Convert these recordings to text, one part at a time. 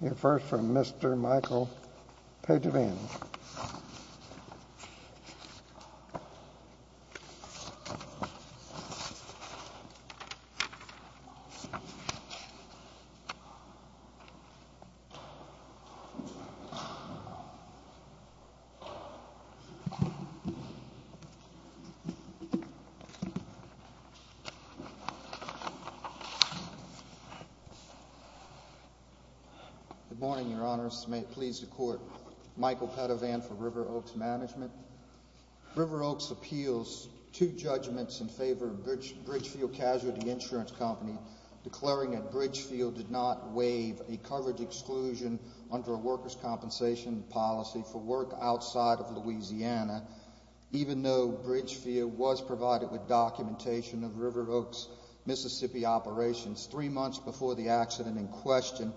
Here first from Mr. Michael Pagiovanni. Good morning, Your Honors. May it please the Court, Michael Pagiovanni for River Oaks Management. River Oaks appeals two judgments in favor of Bridgefield Casualty Insurance Company declaring that Bridgefield did not waive a coverage exclusion under a workers' compensation policy for work outside of Louisiana, even though Bridgefield was provided with documentation of River Oaks Mississippi operations three months before the accident in question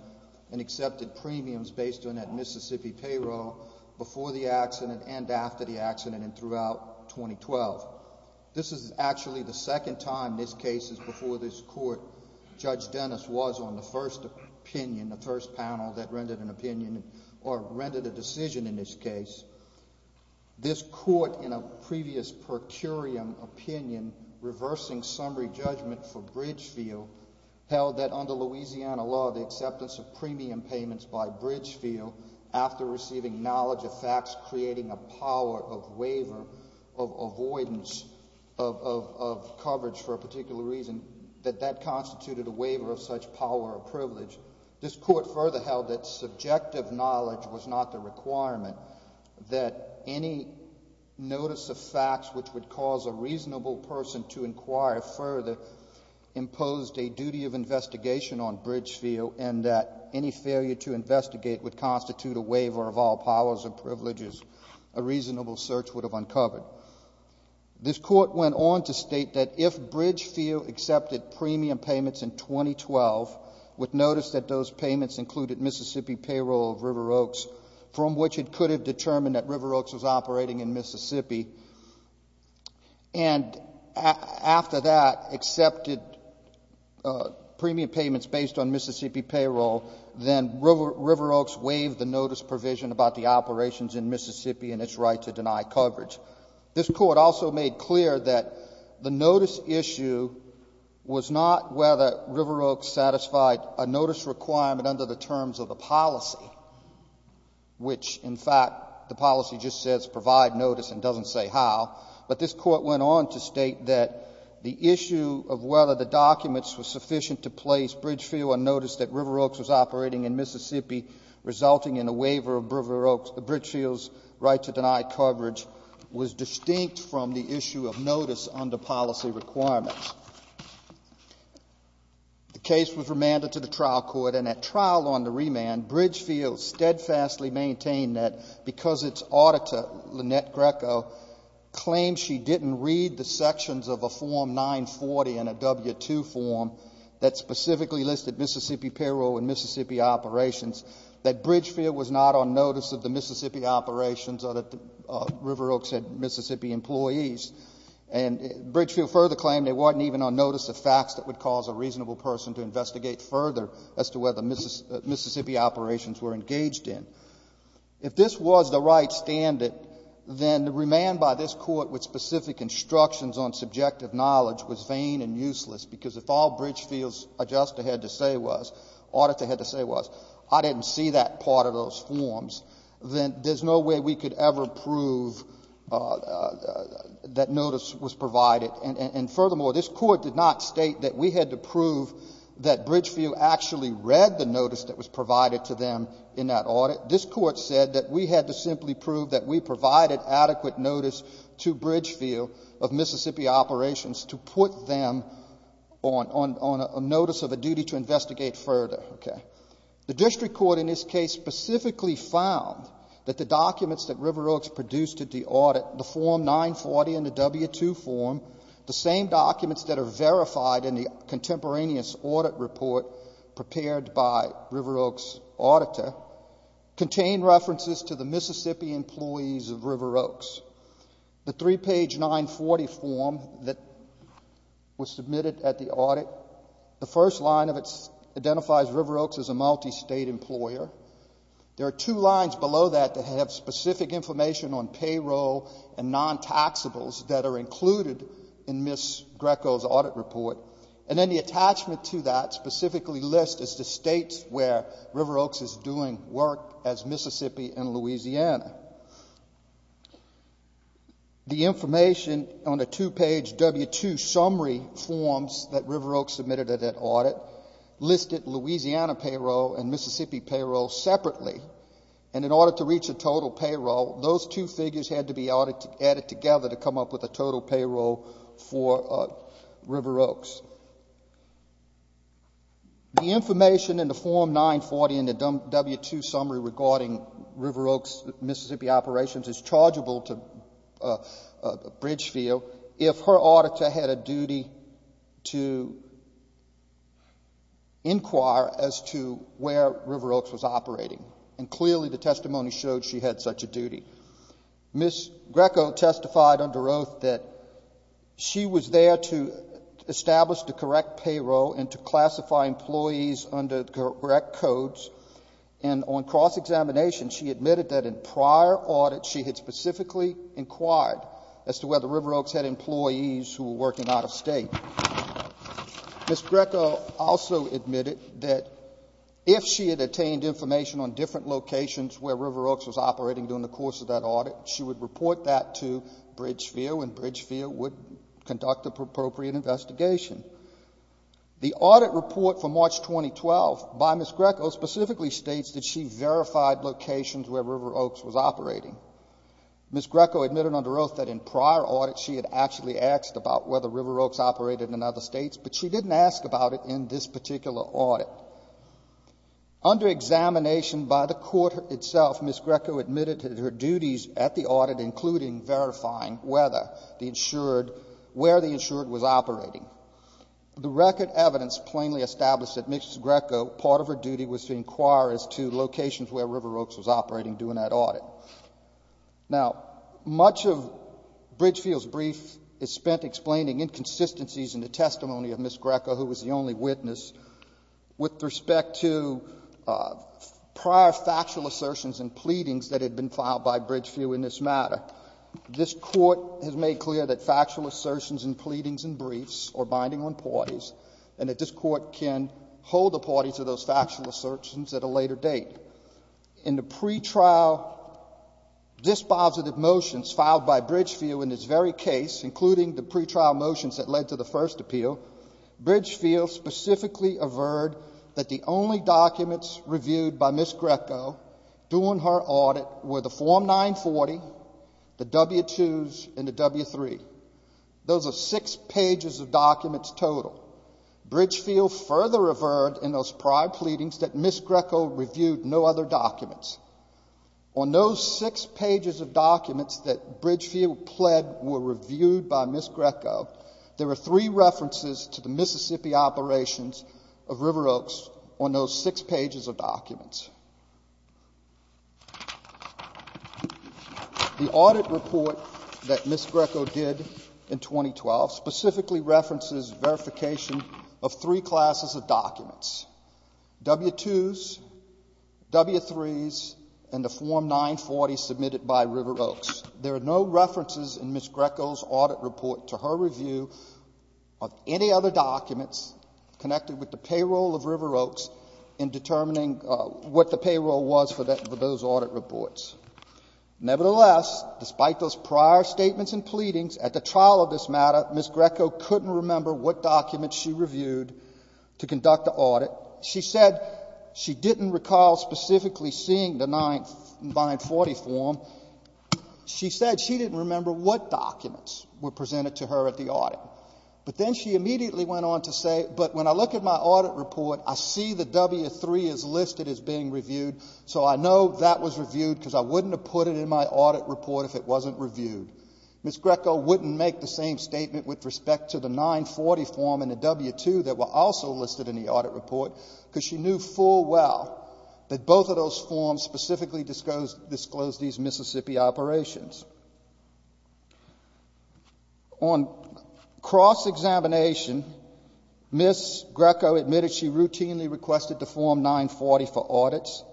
and accepted premiums based on that Mississippi payroll before the accident and after the accident and throughout 2012. This is actually the second time this case is before this Court. Judge Dennis was on the first opinion, the first panel that rendered an opinion or rendered a decision in this case. This Court, in a previous per curiam opinion, reversing summary judgment for Bridgefield, held that under Louisiana law, the acceptance of premium payments by Bridgefield after receiving knowledge of facts creating a power of waiver of avoidance of coverage for a particular reason, that that constituted a waiver of such power or privilege. This Court further held that subjective knowledge was not the requirement, that any notice of facts which would cause a reasonable person to inquire further imposed a duty of investigation on Bridgefield and that any failure to investigate would constitute a waiver of all powers or privileges a reasonable search would have uncovered. This Court went on to state that if Bridgefield accepted premium payments in 2012 with notice that those payments included Mississippi payroll of River Oaks, from which it could have determined that River Oaks was operating in Mississippi and after that accepted premium payments based on Mississippi payroll, then River Oaks waived the notice provision about the operations in Mississippi and its right to deny coverage. This Court also made clear that the notice issue was not whether River Oaks satisfied a notice requirement under the terms of the policy, which in fact the policy just says provide notice and doesn't say how, but this Court went on to state that the issue of whether the documents were sufficient to place Bridgefield on notice that River Oaks was operating in Mississippi, resulting in a waiver of River Oaks, Bridgefield's right to deny coverage, was distinct from the issue of notice under policy requirements. The case was remanded to the trial court, and at trial on the remand, Bridgefield steadfastly maintained that because its auditor, Lynette Greco, claimed she didn't read the sections of a Form 940 and a W-2 form that specifically listed Mississippi payroll and Mississippi operations, that Bridgefield was not on notice of the Mississippi operations or that River Oaks had Mississippi employees. And Bridgefield further claimed they weren't even on notice of facts that would cause a reasonable person to investigate further as to whether Mississippi operations were engaged in. If this was the right standard, then the remand by this Court with specific instructions on subjective knowledge was vain and useless because if all Bridgefield's auditor had to say was, I didn't see that part of those forms, then there's no way we could ever prove that notice was provided. And furthermore, this Court did not state that we had to prove that Bridgefield actually read the notice that was provided to them in that audit. This Court said that we had to simply prove that we provided adequate notice to Bridgefield of Mississippi operations to put them on notice of a duty to investigate further. The district court in this case specifically found that the documents that River Oaks produced at the audit, the Form 940 and the W-2 form, the same documents that are verified in the contemporaneous audit report prepared by River Oaks' auditor, contain references to the Mississippi employees of River Oaks. The 3-page 940 form that was submitted at the audit, the first line of it identifies River Oaks as a multi-state employer. There are two lines below that that have specific information on payroll and non-taxables that are included in Ms. Greco's audit report. And then the attachment to that specifically lists the states where River Oaks is doing work as Mississippi and Louisiana. The information on the two-page W-2 summary forms that River Oaks submitted at that audit listed Louisiana payroll and Mississippi payroll separately. And in order to reach a total payroll, those two figures had to be added together to come up with a total payroll for River Oaks. The information in the Form 940 and the W-2 summary regarding River Oaks' Mississippi operations is chargeable to Bridgefield if her auditor had a duty to inquire as to where River Oaks was operating. And clearly the testimony showed she had such a duty. Ms. Greco testified under oath that she was there to establish the correct payroll and to classify employees under correct codes. And on cross-examination, she admitted that in prior audits she had specifically inquired as to whether River Oaks had employees who were working out-of-state. Ms. Greco also admitted that if she had attained information on different locations where River Oaks was operating during the course of that audit, she would report that to Bridgefield and Bridgefield would conduct the appropriate investigation. The audit report for March 2012 by Ms. Greco specifically states that she verified locations where River Oaks was operating. Ms. Greco admitted under oath that in prior audits she had actually asked about whether River Oaks operated in other states, but she didn't ask about it in this particular audit. Under examination by the court itself, Ms. Greco admitted that her duties at the audit, including verifying whether the insured, where the insured was operating. The record evidence plainly established that Ms. Greco, part of her duty, was to inquire as to locations where River Oaks was operating during that audit. Now, much of Bridgefield's brief is spent explaining inconsistencies in the testimony of Ms. Greco, who was the only witness, with respect to prior factual assertions and pleadings that had been filed by Bridgefield in this matter. This court has made clear that factual assertions and pleadings and briefs are binding on parties and that this court can hold the parties to those factual assertions at a later date. In the pretrial dispositive motions filed by Bridgefield in this very case, including the pretrial motions that led to the first appeal, Bridgefield specifically averred that the only documents reviewed by Ms. Greco during her audit were the Form 940, the W-2s, and the W-3. Those are six pages of documents total. Bridgefield further averred in those prior pleadings that Ms. Greco reviewed no other documents. On those six pages of documents that Bridgefield pled were reviewed by Ms. Greco, there were three references to the Mississippi operations of River Oaks on those six pages of documents. The audit report that Ms. Greco did in 2012 specifically references verification of three classes of documents, W-2s, W-3s, and the Form 940 submitted by River Oaks. There are no references in Ms. Greco's audit report to her review of any other documents connected with the payroll of River Oaks in determining what the payroll was for those audit reports. Nevertheless, despite those prior statements and pleadings at the trial of this matter, Ms. Greco couldn't remember what documents she reviewed to conduct the audit. She said she didn't recall specifically seeing the 940 form. She said she didn't remember what documents were presented to her at the audit. But then she immediately went on to say, but when I look at my audit report, I see the W-3 is listed as being reviewed, so I know that was reviewed because I wouldn't have put it in my audit report if it wasn't reviewed. Ms. Greco wouldn't make the same statement with respect to the 940 form and the W-2 that were also listed in the audit report because she knew full well that both of those forms specifically disclosed these Mississippi operations. On cross-examination, Ms. Greco admitted she routinely requested the Form 940 for audits.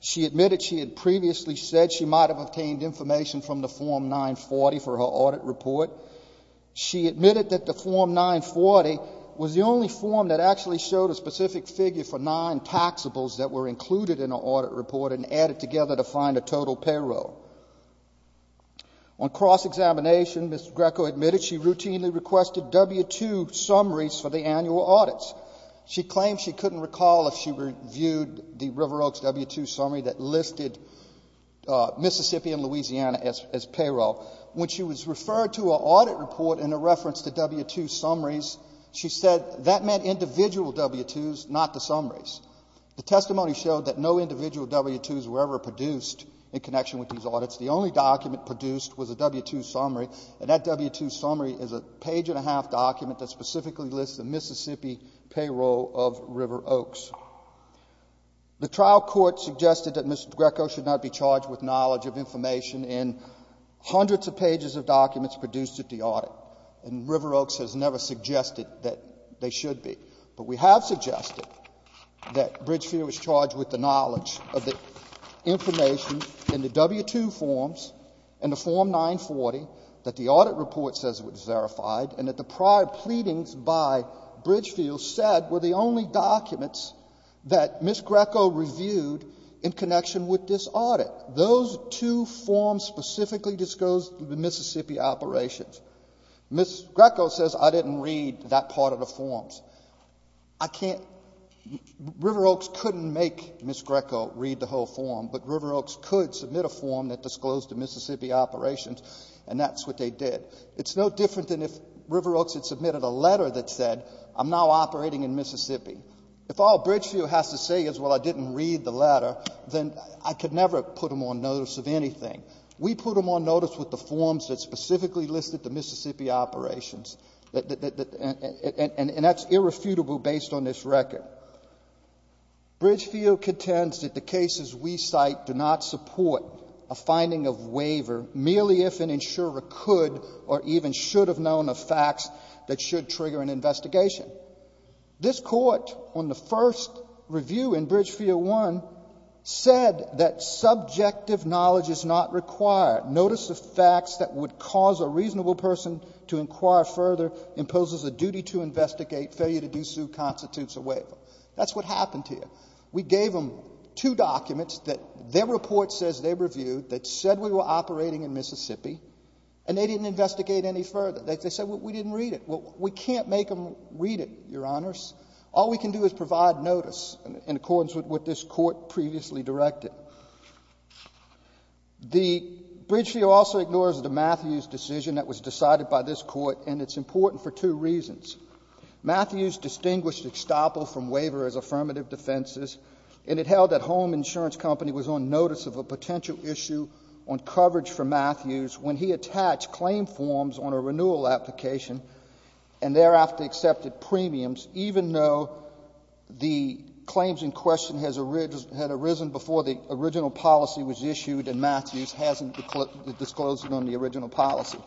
She admitted she had previously said she might have obtained information from the Form 940 for her audit report. She admitted that the Form 940 was the only form that actually showed a specific figure for nine taxables that were included in her audit report and added together to find a total payroll. On cross-examination, Ms. Greco admitted she routinely requested W-2 summaries for the annual audits. She claimed she couldn't recall if she reviewed the River Oaks W-2 summary that listed Mississippi and Louisiana as payroll. When she was referred to her audit report in a reference to W-2 summaries, she said that meant individual W-2s, not the summaries. The testimony showed that no individual W-2s were ever produced in connection with these audits. The only document produced was a W-2 summary, and that W-2 summary is a page-and-a-half document that specifically lists the Mississippi payroll of River Oaks. The trial court suggested that Ms. Greco should not be charged with knowledge of information in hundreds of pages of documents produced at the audit, and River Oaks has never suggested that they should be. But we have suggested that Bridgefield is charged with the knowledge of the information in the W-2 forms, in the Form 940 that the audit report says was verified, and that the prior pleadings by Bridgefield said were the only documents that Ms. Greco reviewed in connection with this audit. Those two forms specifically disclosed the Mississippi operations. Ms. Greco says, I didn't read that part of the forms. I can't ‑‑ River Oaks couldn't make Ms. Greco read the whole form, but River Oaks could submit a form that disclosed the Mississippi operations, and that's what they did. It's no different than if River Oaks had submitted a letter that said, I'm now operating in Mississippi. If all Bridgefield has to say is, well, I didn't read the letter, then I could never put them on notice of anything. We put them on notice with the forms that specifically listed the Mississippi operations, and that's irrefutable based on this record. Bridgefield contends that the cases we cite do not support a finding of waiver, merely if an insurer could or even should have known of facts that should trigger an investigation. This Court, on the first review in Bridgefield 1, said that subjective knowledge is not required. Notice of facts that would cause a reasonable person to inquire further imposes a duty to investigate. Failure to do so constitutes a waiver. That's what happened here. We gave them two documents that their report says they reviewed that said we were operating in Mississippi, and they didn't investigate any further. They said, well, we didn't read it. Well, we can't make them read it, Your Honors. All we can do is provide notice in accordance with what this Court previously directed. The Bridgefield also ignores the Matthews decision that was decided by this Court, and it's important for two reasons. Matthews distinguished estoppel from waiver as affirmative defenses, and it held that Home Insurance Company was on notice of a potential issue on coverage for Matthews when he attached claim forms on a renewal application and thereafter accepted premiums, even though the claims in question had arisen before the original policy was issued and Matthews hasn't disclosed it on the original policy.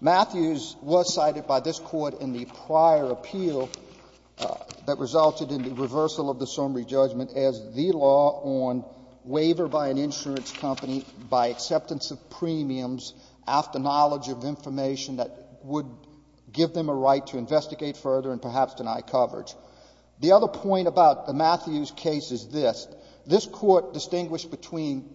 Matthews was cited by this Court in the prior appeal that resulted in the reversal of the summary judgment as the law on waiver by an insurance company by acceptance of premiums after knowledge of information that would give them a right to investigate further and perhaps deny coverage. The other point about the Matthews case is this. This Court distinguished between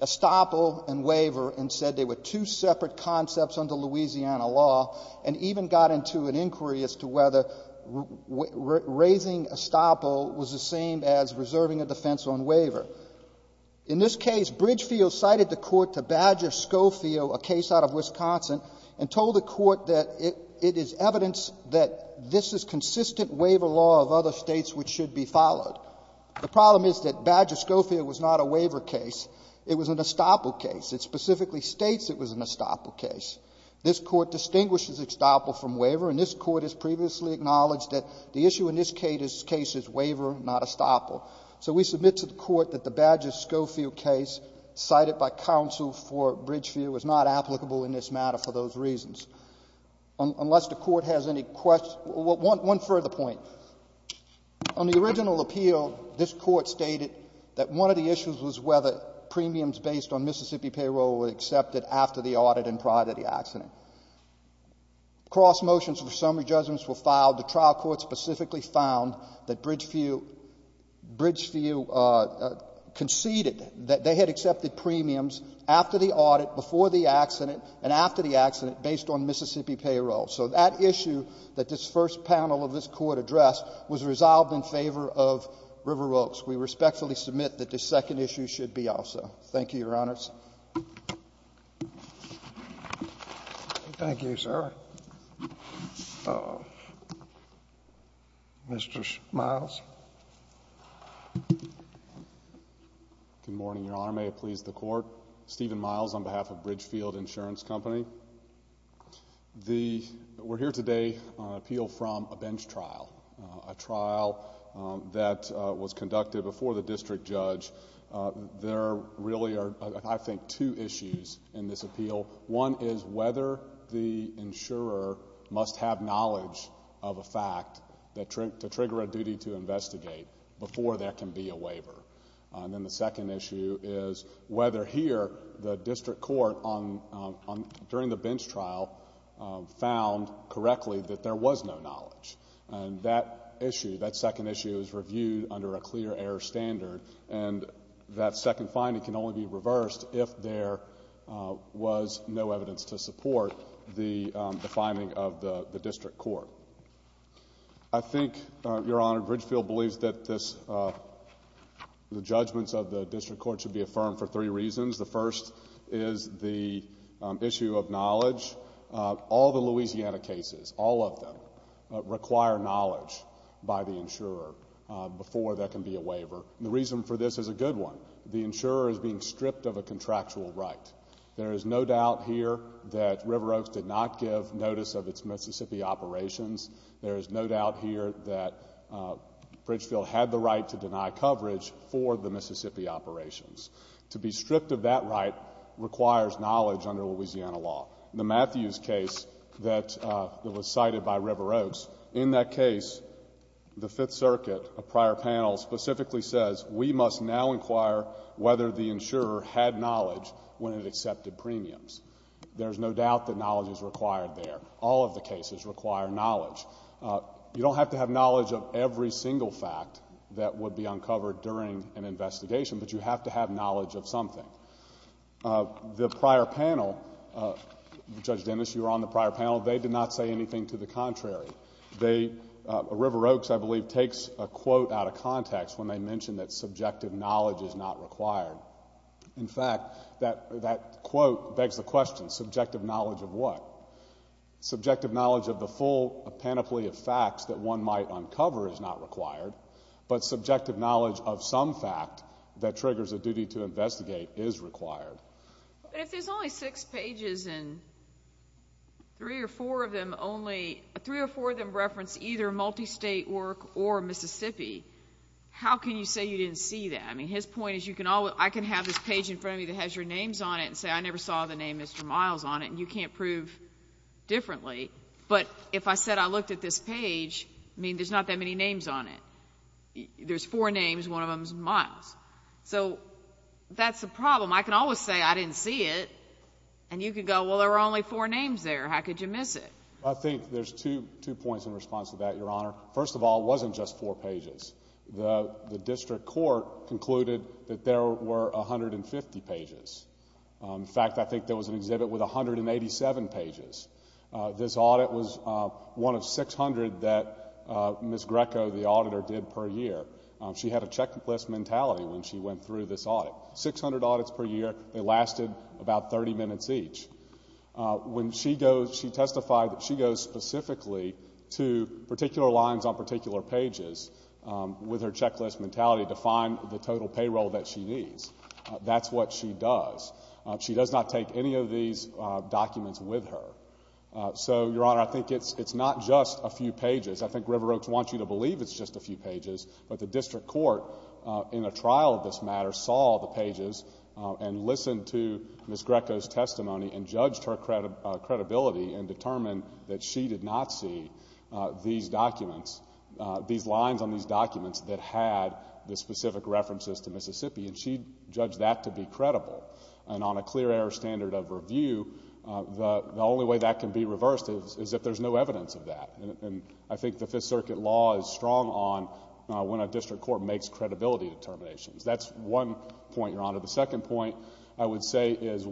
estoppel and waiver and said they were two separate concepts under Louisiana law and even got into an inquiry as to whether raising estoppel was the same as reserving a defense on waiver. In this case, Bridgefield cited the Court to Badger-Scofield, a case out of Wisconsin, and told the Court that it is evidence that this is consistent waiver law of other States which should be followed. The problem is that Badger-Scofield was not a waiver case. It was an estoppel case. It specifically states it was an estoppel case. This Court distinguishes estoppel from waiver, and this Court has previously acknowledged that the issue in this case is waiver, not estoppel. So we submit to the Court that the Badger-Scofield case cited by counsel for Bridgefield was not applicable in this matter for those reasons, unless the Court has any questions. One further point. On the original appeal, this Court stated that one of the issues was whether premiums based on Mississippi payroll were accepted after the audit and prior to the accident. Cross motions for summary judgments were filed. The trial court specifically found that Bridgefield conceded that they had accepted premiums after the audit, before the accident, and after the accident based on Mississippi payroll. So that issue that this first panel of this Court addressed was resolved in favor of River Oaks. We respectfully submit that this second issue should be also. Thank you, Your Honors. Thank you, sir. Mr. Miles. Good morning, Your Honor. May it please the Court. Stephen Miles on behalf of Bridgefield Insurance Company. We're here today on appeal from a bench trial, a trial that was conducted before the district judge. There really are, I think, two issues in this appeal. One is whether the insurer must have knowledge of a fact to trigger a duty to investigate before there can be a waiver. And then the second issue is whether here the district court during the bench trial found correctly that there was no knowledge. And that issue, that second issue, is reviewed under a clear error standard. And that second finding can only be reversed if there was no evidence to support the finding of the district court. I think, Your Honor, Bridgefield believes that the judgments of the district court should be affirmed for three reasons. First, all the Louisiana cases, all of them, require knowledge by the insurer before there can be a waiver. The reason for this is a good one. The insurer is being stripped of a contractual right. There is no doubt here that River Oaks did not give notice of its Mississippi operations. There is no doubt here that Bridgefield had the right to deny coverage for the Mississippi operations. To be stripped of that right requires knowledge under Louisiana law. In the Matthews case that was cited by River Oaks, in that case, the Fifth Circuit, a prior panel, specifically says we must now inquire whether the insurer had knowledge when it accepted premiums. There is no doubt that knowledge is required there. All of the cases require knowledge. You don't have to have knowledge of every single fact that would be uncovered during an investigation, but you have to have knowledge of something. The prior panel, Judge Dennis, you were on the prior panel. They did not say anything to the contrary. River Oaks, I believe, takes a quote out of context when they mention that subjective knowledge is not required. In fact, that quote begs the question, subjective knowledge of what? Subjective knowledge of the full panoply of facts that one might uncover is not required, but subjective knowledge of some fact that triggers a duty to investigate is required. But if there's only six pages and three or four of them reference either multi-state work or Mississippi, how can you say you didn't see that? I mean, his point is I can have this page in front of me that has your names on it and say I never saw the name Mr. Miles on it, and you can't prove differently. But if I said I looked at this page, I mean, there's not that many names on it. There's four names, one of them is Miles. So that's the problem. I can always say I didn't see it, and you can go, well, there were only four names there. How could you miss it? I think there's two points in response to that, Your Honor. First of all, it wasn't just four pages. The district court concluded that there were 150 pages. In fact, I think there was an exhibit with 187 pages. This audit was one of 600 that Ms. Greco, the auditor, did per year. She had a checklist mentality when she went through this audit. Six hundred audits per year. They lasted about 30 minutes each. When she goes, she testified that she goes specifically to particular lines on particular pages with her checklist mentality to find the total payroll that she needs. That's what she does. She does not take any of these documents with her. So, Your Honor, I think it's not just a few pages. I think River Oaks wants you to believe it's just a few pages, but the district court in a trial of this matter saw the pages and listened to Ms. Greco's testimony and judged her credibility and determined that she did not see these documents, these lines on these documents that had the specific references to Mississippi, and she judged that to be credible. And on a clear error standard of review, the only way that can be reversed is if there's no evidence of that. I think the Fifth Circuit law is strong on when a district court makes credibility determinations. That's one point, Your Honor. The second point I would say is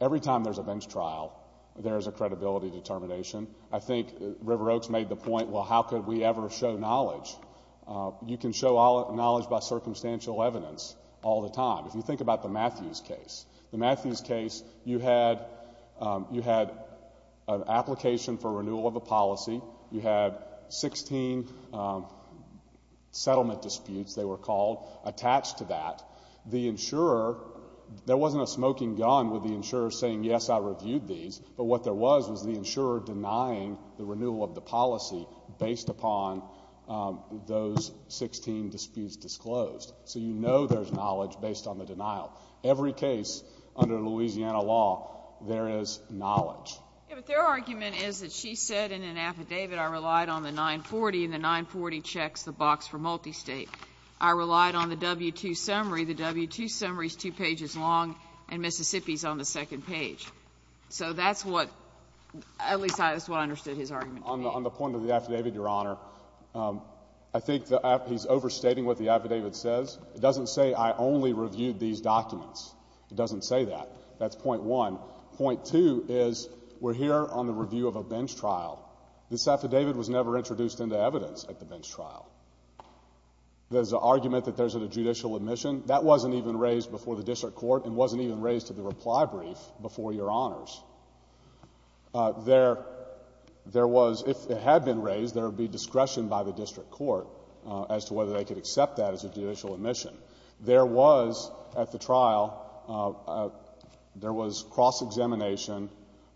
every time there's a bench trial, there's a credibility determination. I think River Oaks made the point, well, how could we ever show knowledge? You can show knowledge by circumstantial evidence all the time. If you think about the Matthews case, the Matthews case, you had an application for renewal of a policy. You had 16 settlement disputes, they were called, attached to that. The insurer, there wasn't a smoking gun with the insurer saying, yes, I reviewed these. But what there was was the insurer denying the renewal of the policy based upon those 16 disputes disclosed. So you know there's knowledge based on the denial. Every case under Louisiana law, there is knowledge. But their argument is that she said in an affidavit, I relied on the 940, and the 940 checks the box for multi-state. I relied on the W-2 summary. The W-2 summary is two pages long, and Mississippi is on the second page. So that's what, at least that's what I understood his argument to be. On the point of the affidavit, Your Honor, I think he's overstating what the affidavit says. It doesn't say I only reviewed these documents. It doesn't say that. That's point one. Point two is we're here on the review of a bench trial. This affidavit was never introduced into evidence at the bench trial. There's an argument that there's a judicial admission. That wasn't even raised before the district court and wasn't even raised to the reply brief before Your Honors. There was, if it had been raised, there would be discretion by the district court as to whether they could accept that as a judicial admission. There was, at the trial, there was cross-examination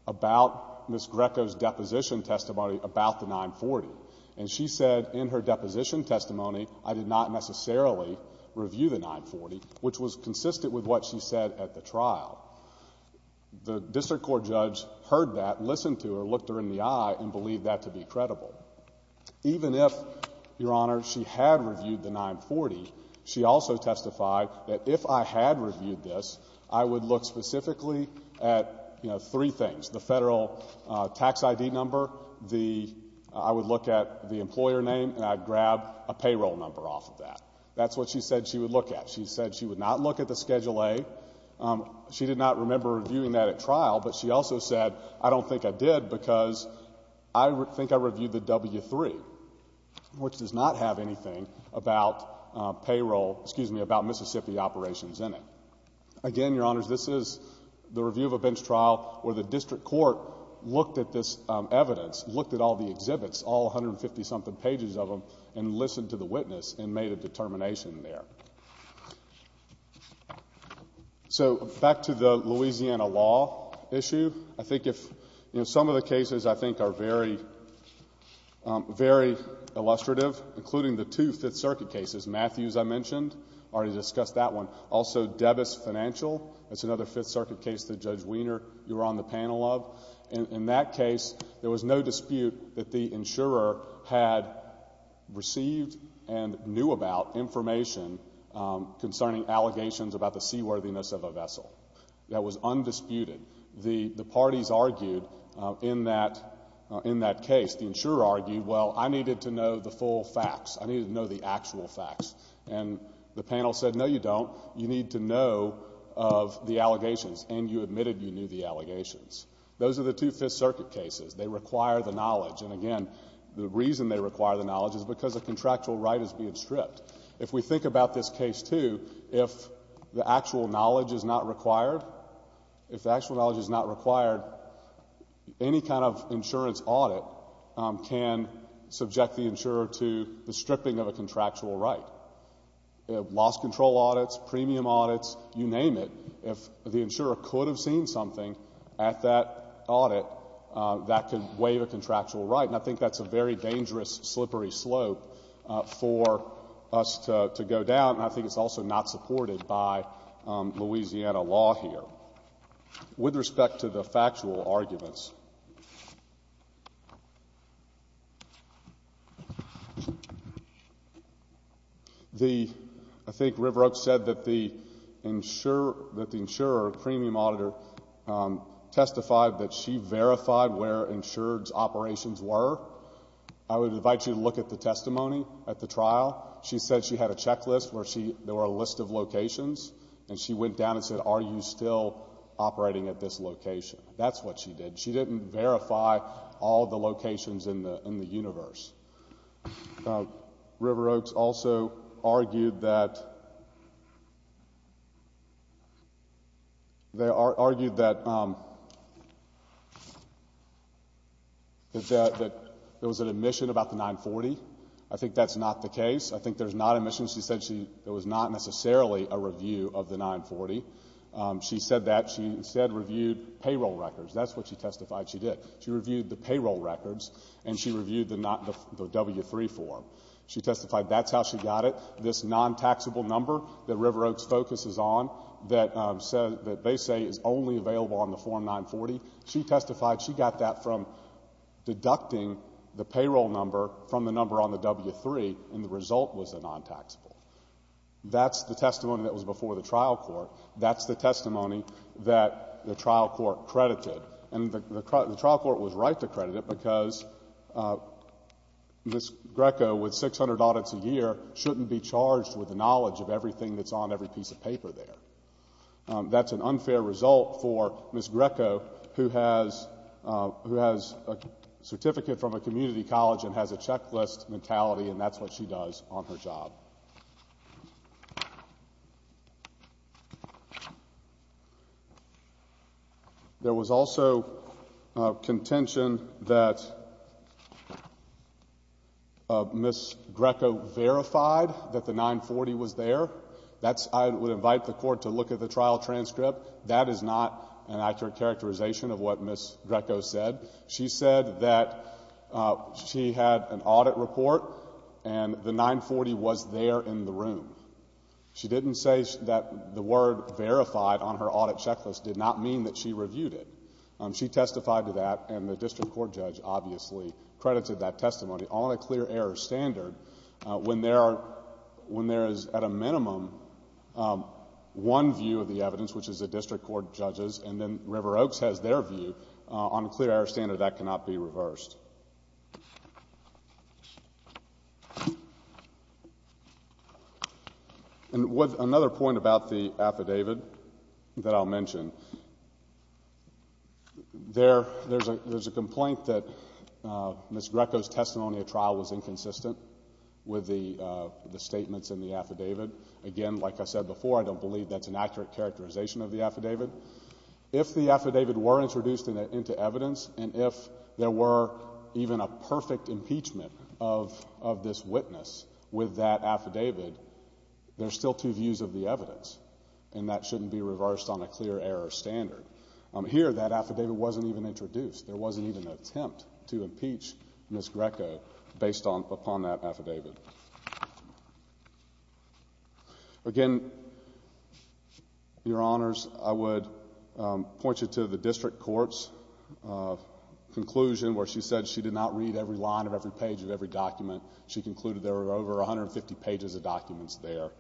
about Ms. Greco's deposition testimony about the 940. And she said in her deposition testimony, I did not necessarily review the 940, which was consistent with what she said at the trial. The district court judge heard that, listened to her, looked her in the eye, and believed that to be credible. Even if, Your Honor, she had reviewed the 940, she also testified that if I had reviewed this, I would look specifically at three things, the federal tax ID number, I would look at the employer name, and I'd grab a payroll number off of that. That's what she said she would look at. She said she would not look at the Schedule A. She did not remember reviewing that at trial, but she also said, I don't think I did because I think I reviewed the W-3, which does not have anything about payroll, excuse me, about Mississippi operations in it. Again, Your Honors, this is the review of a bench trial where the district court looked at this evidence, looked at all the exhibits, all 150-something pages of them, and listened to the witness and made a determination there. So back to the Louisiana law issue, I think some of the cases, I think, are very illustrative, including the two Fifth Circuit cases. Matthews, I mentioned, already discussed that one. Also, Debus Financial, that's another Fifth Circuit case that Judge Wiener, you were on the panel of. In that case, there was no dispute that the insurer had received and knew about information concerning allegations about the seaworthiness of a vessel. That was undisputed. The parties argued in that case. The insurer argued, well, I needed to know the full facts. I needed to know the actual facts. And the panel said, no, you don't. You need to know of the allegations, and you admitted you knew the allegations. Those are the two Fifth Circuit cases. They require the knowledge. And, again, the reason they require the knowledge is because a contractual right is being stripped. If we think about this case, too, if the actual knowledge is not required, if the actual knowledge is not required, any kind of insurance audit can subject the insurer to the stripping of a contractual right. Loss control audits, premium audits, you name it. If the insurer could have seen something at that audit, that could waive a contractual right. And I think that's a very dangerous, slippery slope for us to go down, and I think it's also not supported by Louisiana law here. With respect to the factual arguments, I think River Oak said that the insurer, premium auditor, testified that she verified where insured's operations were. I would invite you to look at the testimony at the trial. She said she had a checklist where there were a list of locations, and she went down and said, Are you still operating at this location? That's what she did. She didn't verify all the locations in the universe. River Oak also argued that there was an admission about the 940. I think that's not the case. I think there's not an admission. There was not necessarily a review of the 940. She said that. She instead reviewed payroll records. That's what she testified she did. She reviewed the payroll records, and she reviewed the W-3 form. She testified that's how she got it, this non-taxable number that River Oak's focus is on, that they say is only available on the Form 940. She testified she got that from deducting the payroll number from the number on the W-3, and the result was a non-taxable. That's the testimony that was before the trial court. That's the testimony that the trial court credited, and the trial court was right to credit it because Ms. Greco, with 600 audits a year, shouldn't be charged with the knowledge of everything that's on every piece of paper there. That's an unfair result for Ms. Greco, who has a certificate from a community college and has a checklist mentality, and that's what she does on her job. There was also contention that Ms. Greco verified that the 940 was there. I would invite the court to look at the trial transcript. That is not an accurate characterization of what Ms. Greco said. She said that she had an audit report and the 940 was there in the room. She didn't say that the word verified on her audit checklist did not mean that she reviewed it. She testified to that, and the district court judge obviously credited that testimony on a clear error standard when there is, at a minimum, one view of the evidence, which is the district court judge's, and then River Oaks has their view. On a clear error standard, that cannot be reversed. Another point about the affidavit that I'll mention, there's a complaint that Ms. Greco's testimony at trial was inconsistent with the statements in the affidavit. Again, like I said before, I don't believe that's an accurate characterization of the affidavit. If the affidavit were introduced into evidence, and if there were even a perfect impeachment of this witness with that affidavit, there's still two views of the evidence, and that shouldn't be reversed on a clear error standard. Here, that affidavit wasn't even introduced. There wasn't even an attempt to impeach Ms. Greco based upon that affidavit. Again, Your Honors, I would point you to the district court's conclusion where she said she did not read every line of every page of every document. She concluded there were over 150 pages of documents there.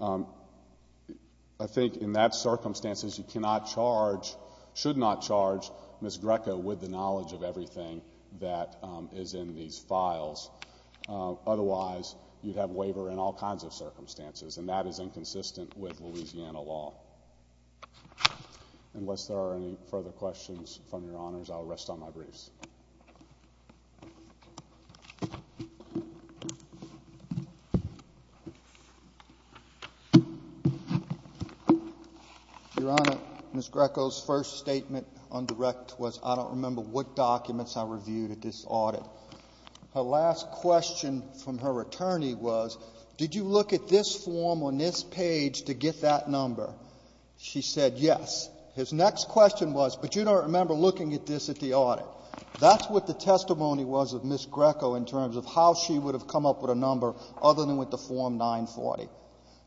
I think in that circumstances, you should not charge Ms. Greco with the knowledge of everything that is in these files. Otherwise, you'd have waiver in all kinds of circumstances, and that is inconsistent with Louisiana law. Unless there are any further questions from Your Honors, I will rest on my briefs. Your Honor, Ms. Greco's first statement on direct was, I don't remember what documents I reviewed at this audit. Her last question from her attorney was, did you look at this form on this page to get that number? She said yes. His next question was, but you don't remember looking at this at the audit. That's what the testimony was of Ms. Greco in terms of how she would have come up with a number other than with the form 940.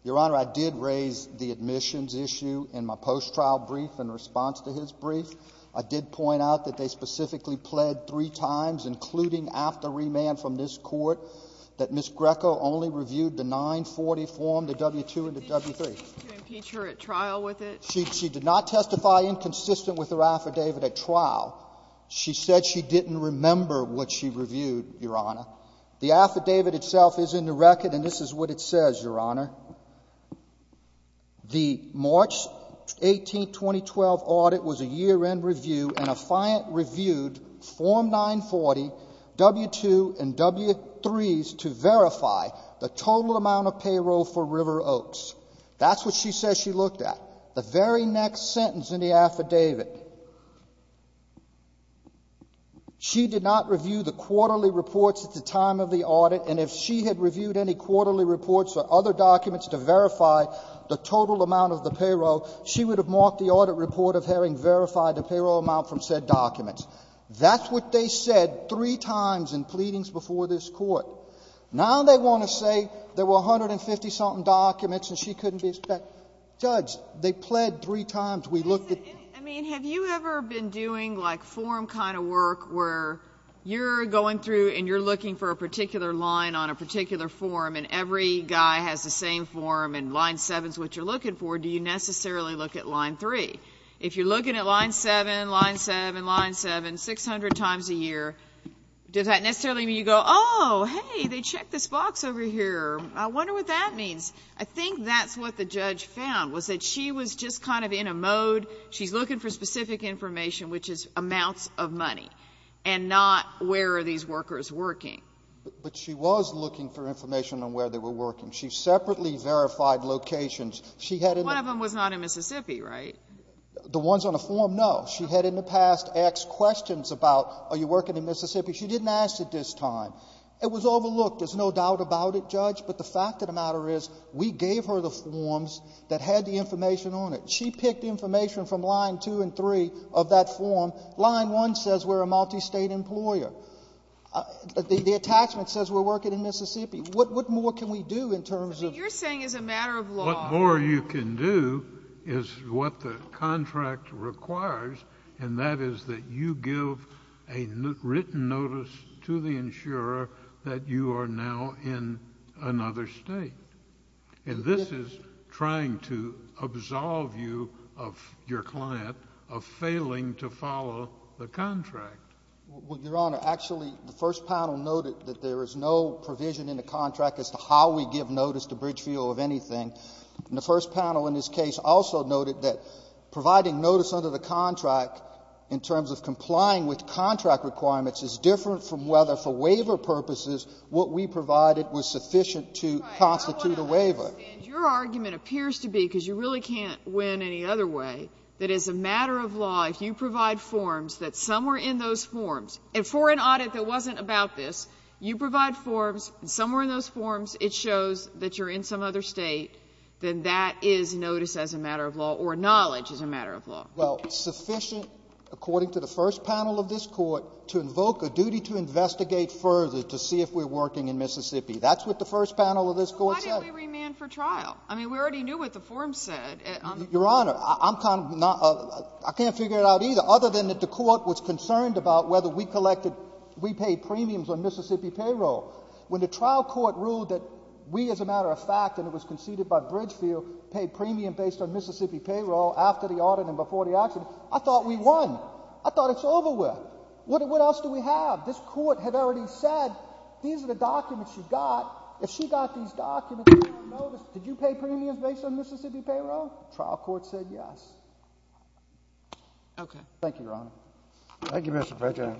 Your Honor, I did raise the admissions issue in my post-trial brief in response to his brief. I did point out that they specifically pled three times, including after remand from this court, that Ms. Greco only reviewed the 940 form, the W-2 and the W-3. She did not testify inconsistent with her affidavit at trial. She said she didn't remember what she reviewed, Your Honor. The affidavit itself is in the record, and this is what it says, Your Honor. The March 18, 2012 audit was a year-end review, and a client reviewed form 940, W-2, and W-3s to verify the total amount of payroll for River Oaks. That's what she says she looked at. The very next sentence in the affidavit, she did not review the quarterly reports at the time of the audit, and if she had reviewed any quarterly reports or other documents to verify the total amount of the payroll, she would have marked the audit report of having verified the payroll amount from said documents. That's what they said three times in pleadings before this Court. Now they want to say there were 150-something documents and she couldn't be expected. Judge, they pled three times. We looked at them. I mean, have you ever been doing, like, form kind of work where you're going through and you're looking for a particular line on a particular form and every guy has the same form and line 7 is what you're looking for, do you necessarily look at line 3? If you're looking at line 7, line 7, line 7, 600 times a year, does that necessarily mean you go, oh, hey, they checked this box over here, I wonder what that means? I think that's what the judge found was that she was just kind of in a mode, she's looking for specific information, which is amounts of money and not where are these workers working. But she was looking for information on where they were working. She separately verified locations. One of them was not in Mississippi, right? The ones on the form, no. She had in the past asked questions about, are you working in Mississippi? She didn't ask at this time. It was overlooked. There's no doubt about it, Judge. But the fact of the matter is we gave her the forms that had the information on it. She picked information from line 2 and 3 of that form. Line 1 says we're a multistate employer. The attachment says we're working in Mississippi. What more can we do in terms of this? But what you're saying is a matter of law. What more you can do is what the contract requires, and that is that you give a written notice to the insurer that you are now in another state. And this is trying to absolve you of your client of failing to follow the contract. Your Honor, actually the first panel noted that there is no provision in the contract as to how we give notice to Bridgefield of anything. And the first panel in this case also noted that providing notice under the contract in terms of complying with contract requirements is different from whether, for waiver purposes, what we provided was sufficient to constitute a waiver. Your argument appears to be, because you really can't win any other way, that it's a matter of law if you provide forms that somewhere in those forms, and for an audit that wasn't about this, you provide forms, somewhere in those forms it shows that you're in some other state, then that is notice as a matter of law or knowledge as a matter of law. Well, sufficient, according to the first panel of this Court, to invoke a duty to investigate further to see if we're working in Mississippi. That's what the first panel of this Court said. Well, why didn't we remand for trial? I mean, we already knew what the form said. Your Honor, I'm kind of not — I can't figure it out either, other than that the Court was concerned about whether we collected — we paid premiums on Mississippi payroll. When the trial court ruled that we, as a matter of fact, and it was conceded by Bridgefield, paid premium based on Mississippi payroll after the audit and before the action, I thought we won. I thought it's over with. What else do we have? This Court had already said these are the documents you got. If she got these documents, did you pay premiums based on Mississippi payroll? The trial court said yes. Okay. Thank you, Your Honor. Thank you, Mr. President.